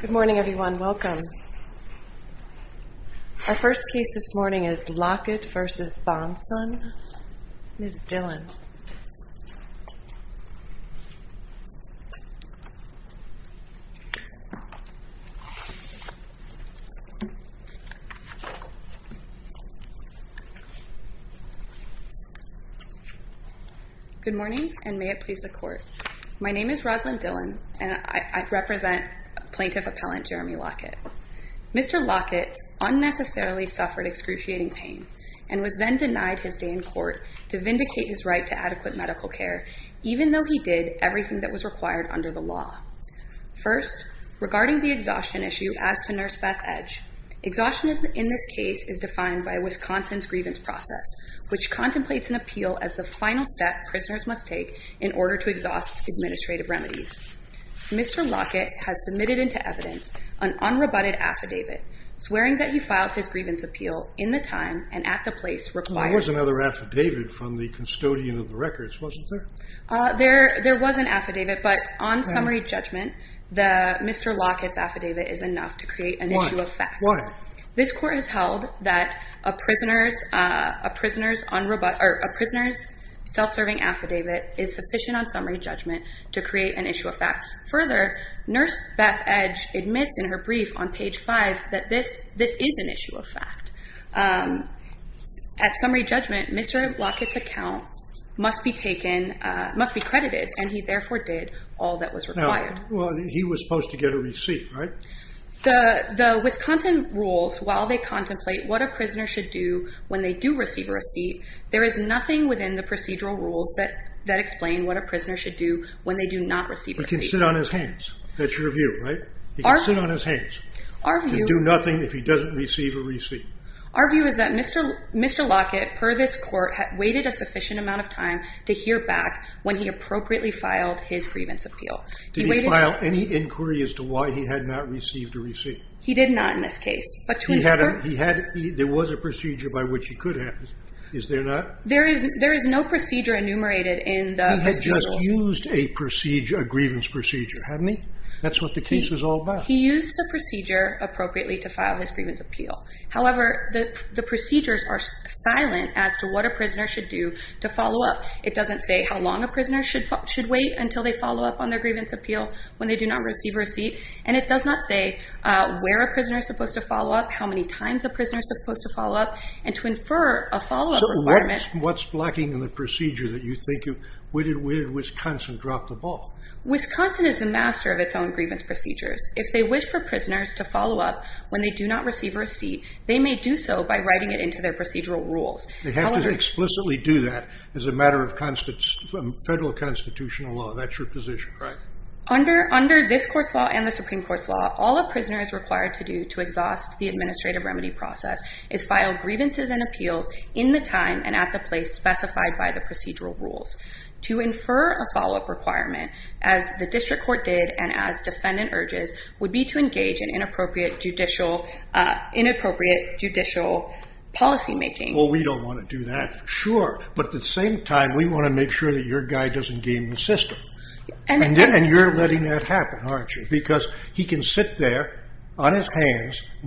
Good morning, everyone. Welcome Our first case this morning is Lockett v. Bonson, Ms. Dillon Good morning, and may it please the court. My name is Rosalind Dillon, and I represent Plaintiff Appellant Jeremy Lockett. Mr. Lockett unnecessarily suffered excruciating pain and was then denied his day in court to vindicate his right to adequate medical care, even though he did everything that was required under the law. First, regarding the exhaustion issue as to Nurse Beth Edge, exhaustion in this case is defined by Wisconsin's grievance process, which contemplates an appeal as the final step prisoners must take in order to exhaust administrative remedies. Mr. Lockett has submitted into evidence an unrebutted affidavit, swearing that he filed his grievance appeal in the time and at the place required. There was an affidavit, but on summary judgment, Mr. Lockett's affidavit is enough to create an issue of fact. This court has held that a prisoner's self-serving affidavit is sufficient on summary judgment to create an issue of fact. At summary judgment, Mr. Lockett's account must be credited, and he therefore did all that was required. He was supposed to get a receipt, right? The Wisconsin rules, while they contemplate what a prisoner should do when they do receive a receipt, there is nothing within the procedural rules that explain what a prisoner should do when they do not receive a receipt. He can sit on his hands. That's your view, right? He can sit on his hands and do nothing if he doesn't receive a receipt. Our view is that Mr. Lockett, per this court, had waited a sufficient amount of time to hear back when he appropriately filed his grievance appeal. Did he file any inquiry as to why he had not received a receipt? He did not in this case. But to his court... He had... There was a procedure by which he could have. Is there not? There is no procedure enumerated in the procedural... He has just used a procedure, a grievance procedure, haven't he? That's what the case is all about. He used the procedure appropriately to file his grievance appeal. However, the procedures are silent as to what a prisoner should do to follow up. It doesn't say how long a prisoner should wait until they follow up on their grievance appeal when they do not receive a receipt. And it does not say where a prisoner is supposed to follow up, how many times a prisoner is supposed to follow up, and to infer a follow-up requirement... So what's lacking in the procedure that you think of? Where did Wisconsin drop the ball? Wisconsin is the master of its own grievance procedures. If they wish for prisoners to follow up when they do not receive a receipt, they may do so by writing it into their procedural rules. They have to explicitly do that as a matter of federal constitutional law. That's your position. Right. Under this court's law and the Supreme Court's law, all a prisoner is required to do to exhaust the administrative remedy process is file grievances and appeals in the time and at the place specified by the to infer a follow-up requirement, as the district court did and as defendant urges, would be to engage in inappropriate judicial policymaking. Well, we don't want to do that. Sure. But at the same time, we want to make sure that your guy doesn't game the system. And you're letting that happen, aren't you? Because he can sit there on his own and file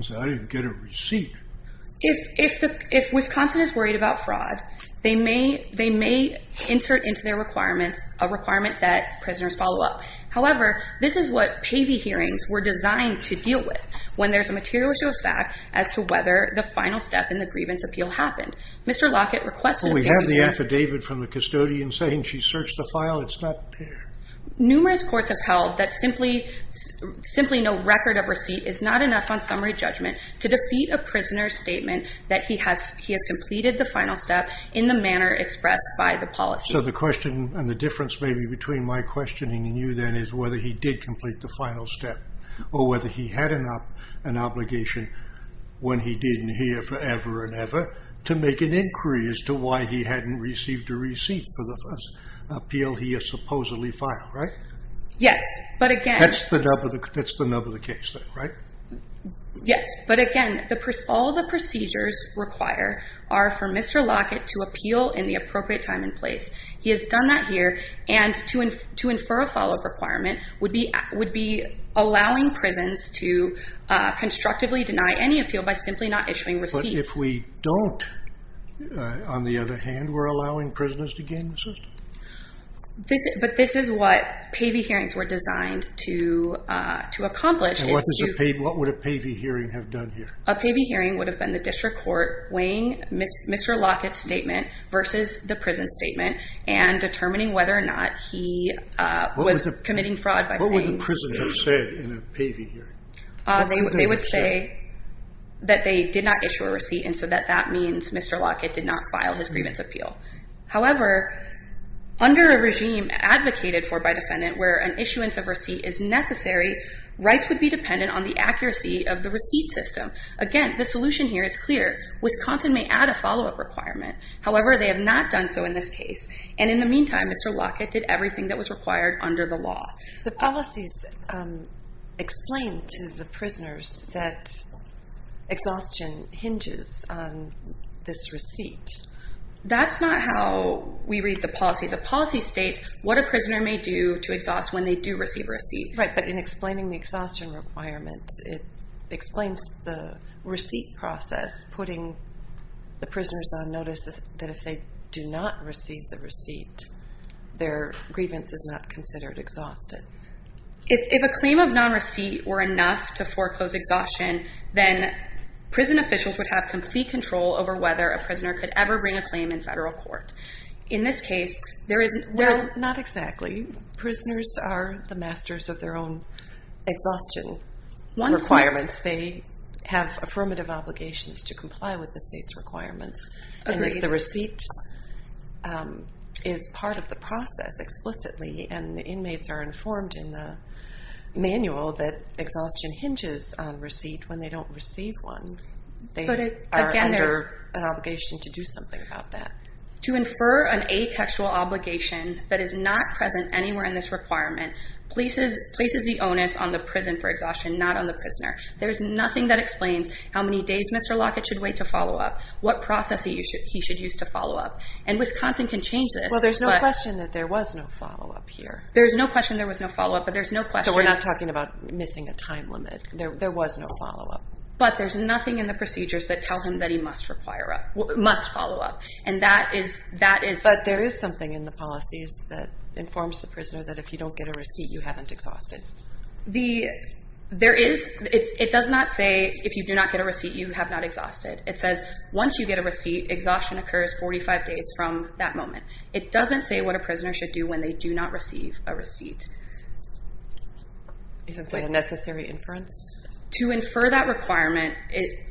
a requirement that prisoners follow up. However, this is what PAVI hearings were designed to deal with when there's a material issue of fact as to whether the final step in the grievance appeal happened. Mr. Lockett requested... We have the affidavit from the custodian saying she searched the file. It's not there. Numerous courts have held that simply no record of receipt is not enough on summary judgment to defeat a prisoner's claim that he has completed the final step in the manner expressed by the policy. So, the question and the difference maybe between my questioning and you then is whether he did complete the final step or whether he had an obligation when he didn't hear forever and ever to make an inquiry as to why he hadn't received a receipt for the first appeal he has supposedly filed, right? Yes. But again... That's the nub of the case, right? Yes. But again, all the procedures require are for Mr. Lockett to appeal in the appropriate time and place. He has done that here and to infer a follow-up requirement would be allowing prisons to constructively deny any appeal by simply not issuing receipts. But if we don't, on the other hand, we're allowing prisoners to gain assistance? But this is what PAVI hearings were designed to accomplish. What would a PAVI hearing have done here? A PAVI hearing would have been the district court weighing Mr. Lockett's statement versus the prison's statement and determining whether or not he was committing fraud by saying... What would the prison have said in a PAVI hearing? They would say that they did not issue a receipt and so that means Mr. Lockett did not file his grievance appeal. However, under a regime advocated for by defendant where an issuance of receipt is necessary, rights would be dependent on the defendant. Again, the solution here is clear. Wisconsin may add a follow-up requirement. However, they have not done so in this case. And in the meantime, Mr. Lockett did everything that was required under the law. The policies explain to the prisoners that exhaustion hinges on this receipt. That's not how we read the policy. The policy states what a prisoner may do to exhaust when they do receive a receipt. Right, but in explaining the exhaustion requirements, it explains the receipt process, putting the prisoners on notice that if they do not receive the receipt, their grievance is not considered exhausted. If a claim of non-receipt were enough to foreclose exhaustion, then prison officials would have complete control over whether a prisoner could ever bring a claim in federal court. Well, not exactly. Prisoners are the masters of their own exhaustion requirements. They have affirmative obligations to comply with the state's requirements. And if the receipt is part of the process explicitly and the inmates are informed in the manual that exhaustion hinges on receipt when they don't receive one, they are under an obligation to do something about that. To infer an atextual obligation that is not present anywhere in this requirement places the onus on the prison for exhaustion, not on the prisoner. There's nothing that explains how many days Mr. Lockett should wait to follow-up, what process he should use to follow-up. And Wisconsin can change this. Well, there's no question that there was no follow-up here. There's no question there was no follow-up, but there's no question... So we're not talking about missing a time limit. There was no follow-up. But there's nothing in the procedures that tell him that he must follow-up, and that is... But there is something in the policies that informs the prisoner that if you don't get a receipt, you haven't exhausted. There is. It does not say if you do not get a receipt, you have not exhausted. It says once you get a receipt, exhaustion occurs 45 days from that moment. It doesn't say what a prisoner should do when they do not receive a receipt. Isn't that a necessary inference? To infer that requirement,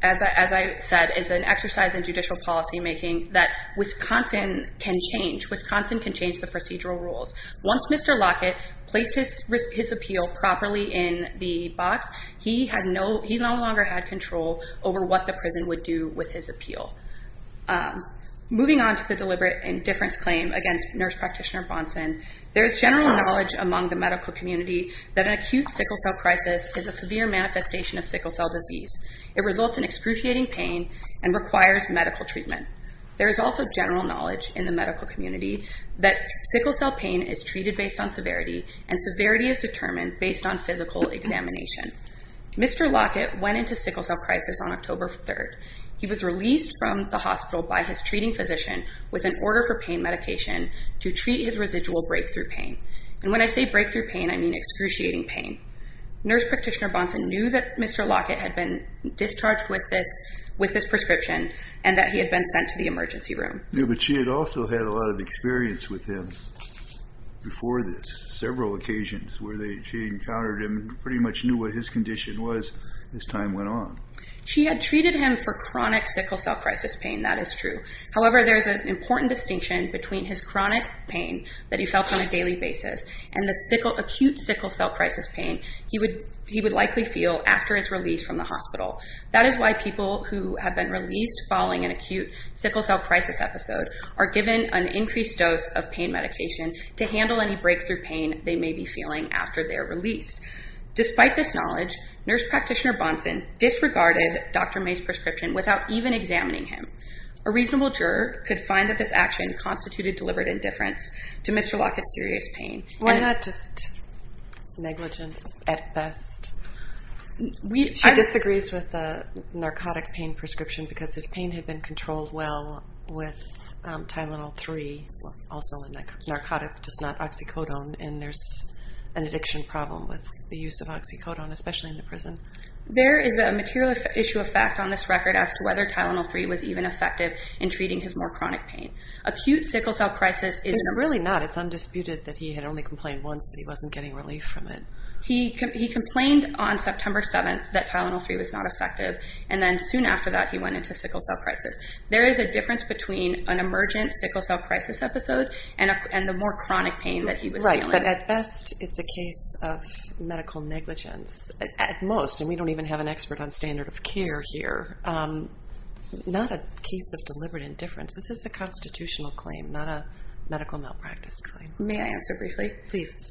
as I said, is an exercise in judicial policymaking that Wisconsin can change. Wisconsin can change the procedural rules. Once Mr. Lockett placed his appeal properly in the box, he no longer had control over what the prison would do with his appeal. Moving on to the deliberate indifference claim against Nurse Practitioner Bonson, there is general knowledge among the medical community that an acute sickle cell crisis is a severe manifestation of sickle cell disease. It results in excruciating pain and requires medical treatment. There is also general knowledge in the medical community that sickle cell pain is treated based on severity, and severity is determined based on physical examination. Mr. Lockett went into sickle cell crisis on October 3rd. He was released from the hospital by his treating physician with an order for pain medication to treat his residual breakthrough pain. And when I say breakthrough pain, I mean excruciating pain. Nurse Practitioner Bonson knew that Mr. Lockett had been discharged with this prescription and that he had been sent to the emergency room. Yeah, but she had also had a lot of experience with him before this, several occasions where she encountered him, pretty much knew what his condition was as time went on. She had treated him for chronic sickle cell crisis pain, that is true. However, there is an important distinction between his chronic pain that he felt on a daily basis and the acute sickle cell crisis pain he would likely feel after his release from the hospital. That is why people who have been released following an acute sickle cell crisis episode are given an increased dose of pain medication to handle any breakthrough pain they may be feeling after they're released. Despite this knowledge, Nurse Practitioner Bonson disregarded Dr. May's prescription without even examining him. A reasonable juror could find that this action constituted deliberate indifference to Mr. Lockett's serious pain. Why not just negligence at best? She disagrees with the narcotic pain prescription because his pain had been controlled well with Tylenol-3, also a narcotic, just not oxycodone, and there's an addiction problem with the use of oxycodone, especially in the prison. There is a material issue of fact on this record as to whether Tylenol-3 was even effective in treating his more chronic pain. Acute sickle cell crisis is... It's really not. It's undisputed that he had only complained once that he wasn't getting relief from it. He complained on September 7th that Tylenol-3 was not effective, and then soon after that he went into sickle cell crisis. There is a difference between an emergent sickle cell crisis episode and the more chronic pain that he was feeling. Right, but at best it's a case of medical negligence. At most, and we don't even have an expert on standard of care here, not a case of deliberate indifference. This is a constitutional claim, not a medical malpractice claim. May I answer briefly? Please.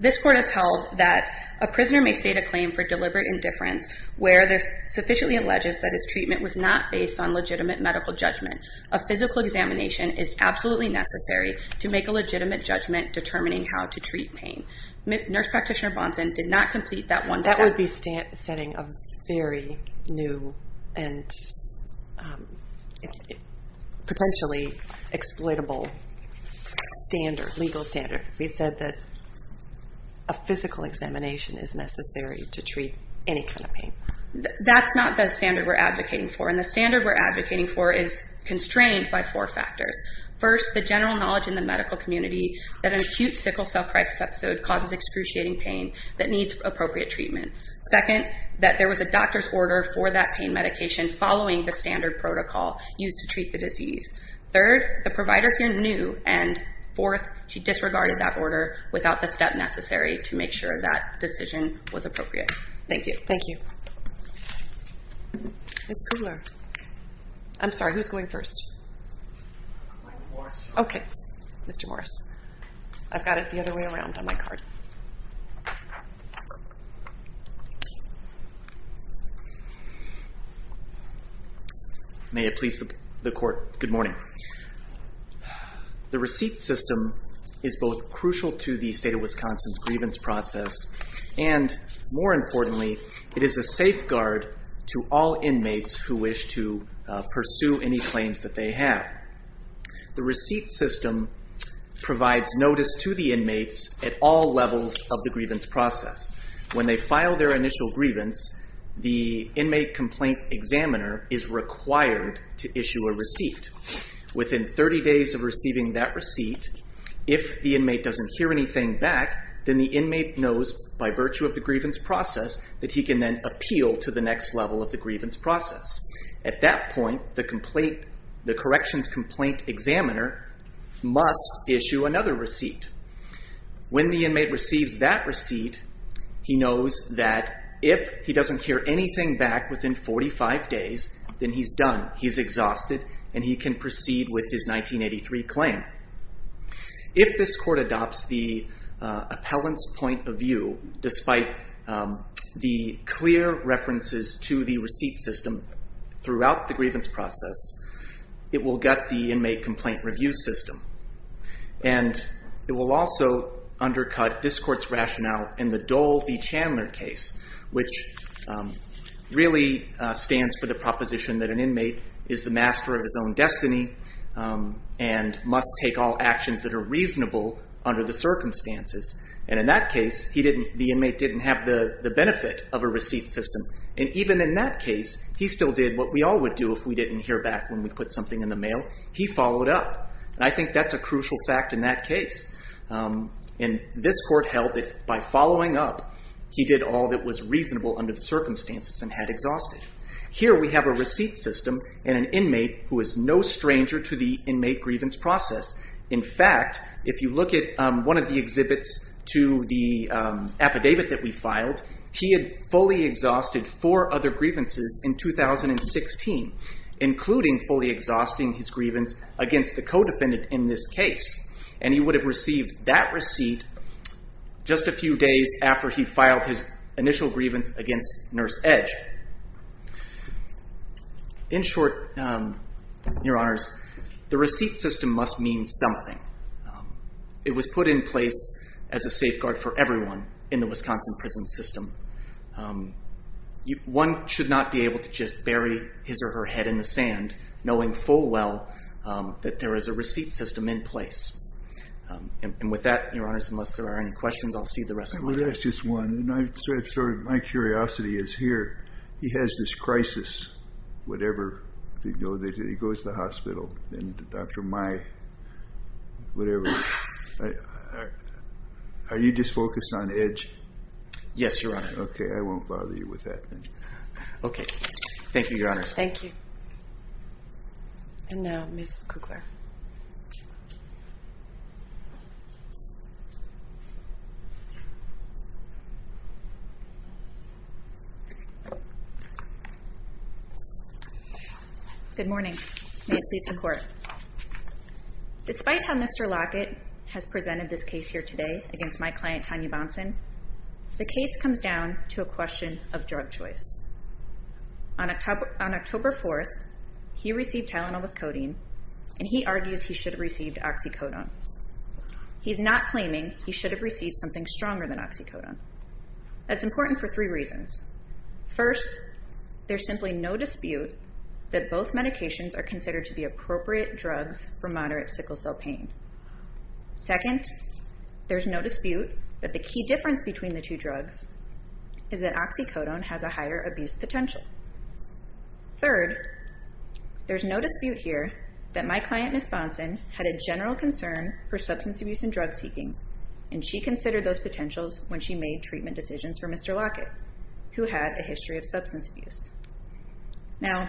This court has held that a prisoner may state a claim for deliberate indifference where they're sufficiently alleges that his treatment was not based on legitimate medical judgment. A physical examination is absolutely necessary to make a legitimate judgment determining how to treat pain. Nurse practitioner Bonson did not complete that one step. That would be setting a very new and potentially exploitable standard, legal standard. We said that a physical examination is necessary to treat any kind of pain. That's not the standard we're advocating for, and the standard we're advocating for is constrained by four factors. First, the general knowledge in the medical community that an acute sickle cell crisis episode causes excruciating pain that needs appropriate treatment. Second, that there was a doctor's order for that pain medication following the standard protocol used to treat the disease. Third, the provider here knew. And fourth, she disregarded that order without the step necessary to make sure that decision was appropriate. Thank you. Thank you. Ms. Kudler. I'm sorry, who's going first? I'll go first. Okay. Mr. Morris. I've got it the other way around on my card. May it please the Court, good morning. The receipt system is both crucial to the state of Wisconsin's grievance process and, more importantly, it is a safeguard to all inmates who wish to pursue any claims that they have. The receipt system provides notice to the inmates at all levels of the grievance process. When they file their initial grievance, the inmate complaint examiner is required to issue a receipt. Within 30 days of receiving that receipt, if the inmate doesn't hear anything back, then the inmate knows by virtue of the grievance process that he can then appeal to the next level of the grievance process. At that point, the corrections complaint examiner must issue another receipt. When the inmate receives that receipt, he knows that if he doesn't hear anything back within 45 days, then he's done, he's exhausted, and he can proceed with his 1983 claim. If this Court adopts the appellant's point of view, despite the clear references to the receipt system throughout the grievance process, it will gut the inmate complaint review system, and it will also undercut this Court's rationale in the Dole v. Chandler case, which really stands for the proposition that an inmate is the master of his own destiny and must take all actions that are reasonable under the circumstances. In that case, the inmate didn't have the benefit of a receipt system. Even in that case, he still did what we all would do if we didn't hear back when we put something in the mail. He followed up. I think that's a crucial fact in that case. This Court held that by following up, he did all that was reasonable under the circumstances and had exhausted. Here, we have a receipt system and an inmate who is no stranger to the inmate grievance process. In fact, if you look at one of the exhibits to the affidavit that we filed, he had fully exhausted four other grievances in 2016, including fully exhausting his grievance against the co-defendant in this case. And he would have received that receipt just a few days after he filed his initial grievance against Nurse Edge. In short, Your Honors, the receipt system must mean something. It was put in place as a safeguard for everyone in the Wisconsin prison system. One should not be able to just bury his or her head in the sand, knowing full well that there is a receipt system in place. And with that, Your Honors, unless there are any questions, I'll see you the rest of the day. Let me ask just one. My curiosity is here, he has this crisis, whatever, he goes to the hospital and Dr. Mai, whatever, are you just focused on Edge? Yes, Your Honor. Okay, I won't bother you with that then. Okay. Thank you, Your Honors. Thank you. And now, Ms. Kugler. Good morning. May it please the Court. Despite how Mr. Lockett has presented this case here today against my client, Tanya Bonson, the case comes down to a question of drug choice. On October 4th, he received Tylenol with codeine and he argues he should have received oxycodone. He's not claiming he should have received something stronger than oxycodone. That's important for three reasons. First, there's simply no dispute that both medications are considered to be appropriate drugs for moderate sickle cell pain. Second, there's no dispute that the key difference between the two drugs is that oxycodone has a higher abuse potential. Third, there's no dispute here that my client, Ms. Bonson, had a general concern for substance abuse and drug seeking, and she considered those potentials when she made treatment decisions for Mr. Lockett, who had a history of substance abuse. Now,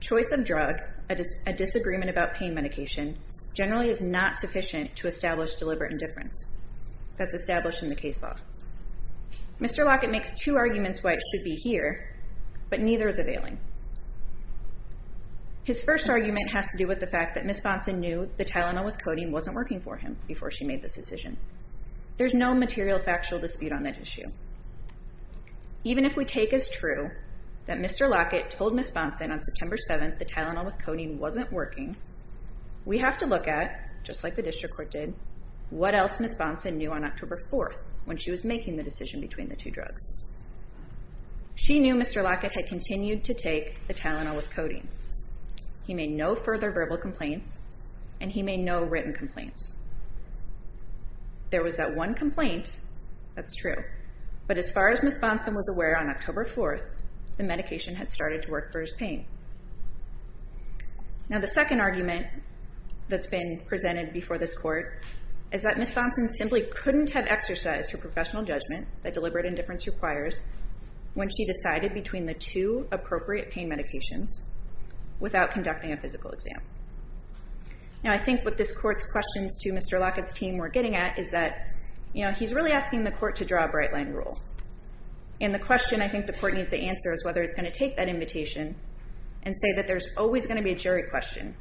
choice of drug, a disagreement about pain medication, generally is not sufficient to establish deliberate indifference. That's established in the case law. Mr. Lockett makes two arguments why it should be here, but neither is availing. His first argument has to do with the fact that Ms. Bonson knew the Tylenol with codeine wasn't working for him before she made this decision. There's no material factual dispute on that issue. Even if we take as true that Mr. Lockett told Ms. Bonson on September 7th the Tylenol with codeine wasn't working, we have to look at, just like the district court did, what else Ms. Bonson knew on October 4th when she was making the decision between the two drugs. She knew Mr. Lockett had continued to take the Tylenol with codeine. He made no further verbal complaints, and he made no written complaints. There was that one complaint, that's true, but as far as Ms. Bonson was aware on October 4th, the medication had started to work for his pain. Now the second argument that's been presented before this court is that Ms. Bonson simply couldn't have exercised her professional judgment that deliberate indifference requires when she decided between the two appropriate pain medications without conducting a physical exam. Now I think what this court's questions to Mr. Lockett's team were getting at is that he's really asking the court to draw a bright line rule. And the question I think the court needs to answer is whether it's going to take that invitation and say that there's always going to be a jury question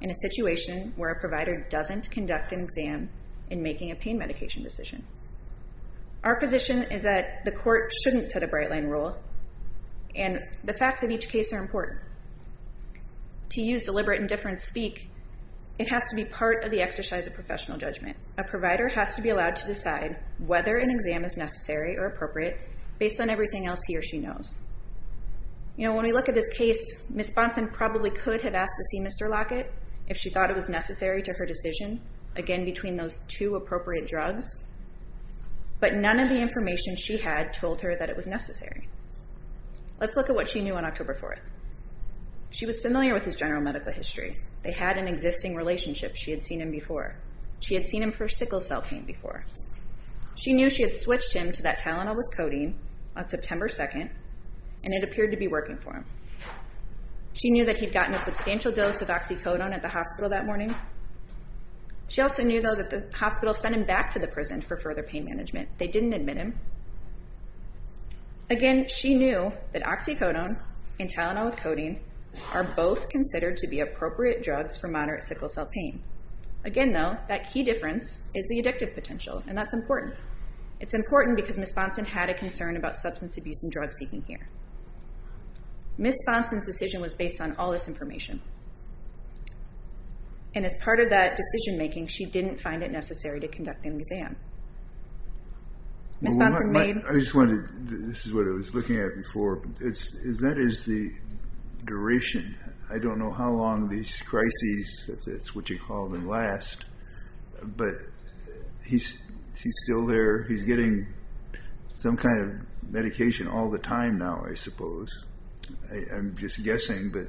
in a situation where a provider doesn't conduct an exam in making a pain medication decision. Our position is that the court shouldn't set a bright line rule, and the facts of each case are important. To use deliberate indifference speak, it has to be part of the exercise of professional judgment. A provider has to be allowed to decide whether an exam is necessary or appropriate based on everything else he or she knows. You know, when we look at this case, Ms. Bonson probably could have asked to see Mr. Lockett if she thought it was necessary to her decision, again, between those two appropriate drugs. But none of the information she had told her that it was necessary. Let's look at what she knew on October 4th. She was familiar with his general medical history. They had an existing relationship. She had seen him before. She had seen him for sickle cell pain before. She knew she had switched him to that Tylenol with codeine on September 2nd, and it appeared to be working for him. She knew that he'd gotten a substantial dose of oxycodone at the hospital that morning. She also knew, though, that the hospital sent him back to the prison for further pain management. They didn't admit him. Again, she knew that oxycodone and Tylenol with codeine are both considered to be appropriate drugs for moderate sickle cell pain. Again, though, that key difference is the addictive potential, and that's important. It's important because Ms. Bonson had a concern about substance abuse and drug seeking here. Ms. Bonson's decision was based on all this information. And as part of that decision-making, she didn't find it necessary to conduct an exam. Ms. Bonson made— I just wanted to—this is what I was looking at before. Is that the duration? I don't know how long these crises, if that's what you call them, last. But he's still there. He's getting some kind of medication all the time now, I suppose. I'm just guessing, but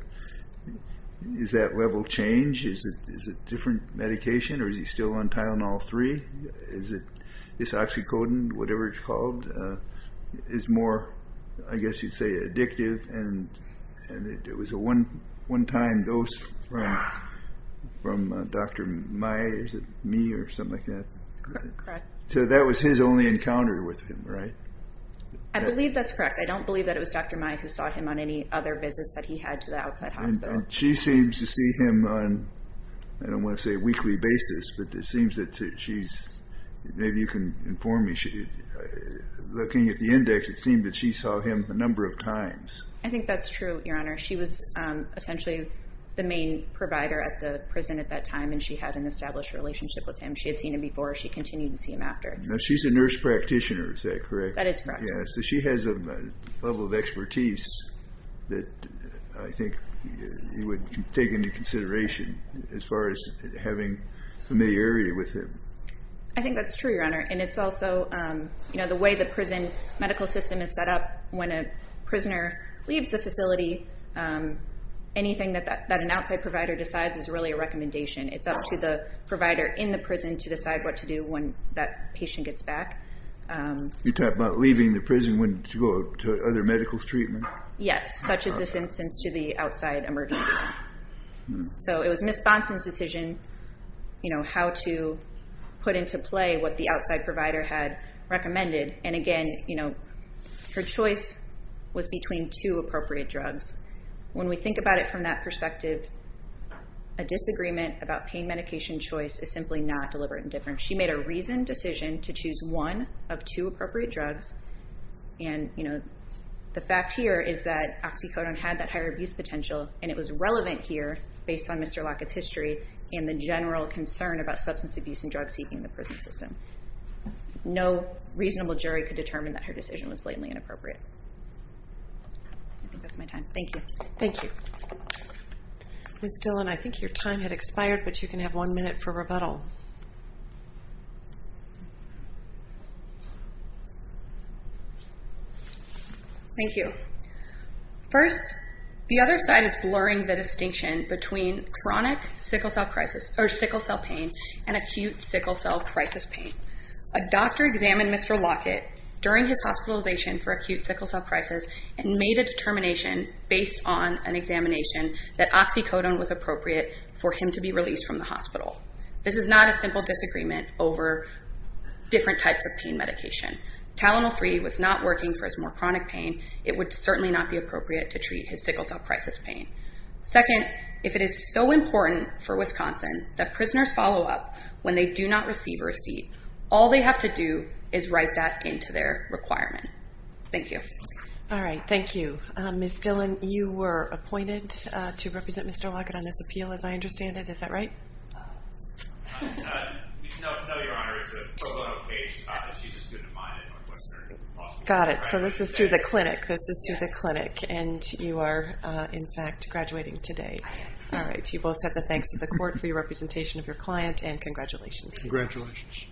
is that level change? Is it different medication, or is he still on Tylenol-3? Is oxycodone, whatever it's called, is more, I guess you'd say, addictive? And it was a one-time dose from Dr. Mai. Is it me or something like that? Correct. So that was his only encounter with him, right? I believe that's correct. I don't believe that it was Dr. Mai who saw him on any other visits that he had to the outside hospital. And she seems to see him on, I don't want to say a weekly basis, but it seems that she's—maybe you can inform me. Looking at the index, it seemed that she saw him a number of times. I think that's true, Your Honor. She was essentially the main provider at the prison at that time, and she had an established relationship with him. She had seen him before. She continued to see him after. She's a nurse practitioner, is that correct? That is correct. So she has a level of expertise that I think you would take into consideration as far as having familiarity with him. I think that's true, Your Honor. And it's also, you know, the way the prison medical system is set up, when a prisoner leaves the facility, anything that an outside provider decides is really a recommendation. It's up to the provider in the prison to decide what to do when that patient gets back. You're talking about leaving the prison to go to other medical treatment? Yes, such as this instance to the outside emergency room. So it was Ms. Bonson's decision, you know, how to put into play what the outside provider had recommended. And, again, you know, her choice was between two appropriate drugs. When we think about it from that perspective, a disagreement about pain medication choice is simply not deliberate indifference. She made a reasoned decision to choose one of two appropriate drugs, and, you know, the fact here is that oxycodone had that higher abuse potential and it was relevant here based on Mr. Lockett's history and the general concern about substance abuse and drug seeking in the prison system. No reasonable jury could determine that her decision was blatantly inappropriate. I think that's my time. Thank you. Thank you. Ms. Dillon, I think your time had expired, but you can have one minute for rebuttal. Thank you. First, the other side is blurring the distinction between chronic sickle cell crisis or sickle cell pain and acute sickle cell crisis pain. A doctor examined Mr. Lockett during his hospitalization for acute sickle cell crisis and made a determination based on an examination that oxycodone was appropriate for him to be released from the hospital. This is not a simple disagreement over different types of pain medication. Tylenol-3 was not working for his more chronic pain. It would certainly not be appropriate to treat his sickle cell crisis pain. Second, if it is so important for Wisconsin that prisoners follow up when they do not receive a receipt, all they have to do is write that into their requirement. Thank you. All right. Thank you. Ms. Dillon, you were appointed to represent Mr. Lockett on this appeal, as I understand it. Is that right? No, Your Honor. It's a pro bono case. She's a student of mine at Northwestern. Got it. So this is through the clinic. This is through the clinic. And you are, in fact, graduating today. All right. You both have the thanks of the court for your representation of your client, and congratulations. Congratulations.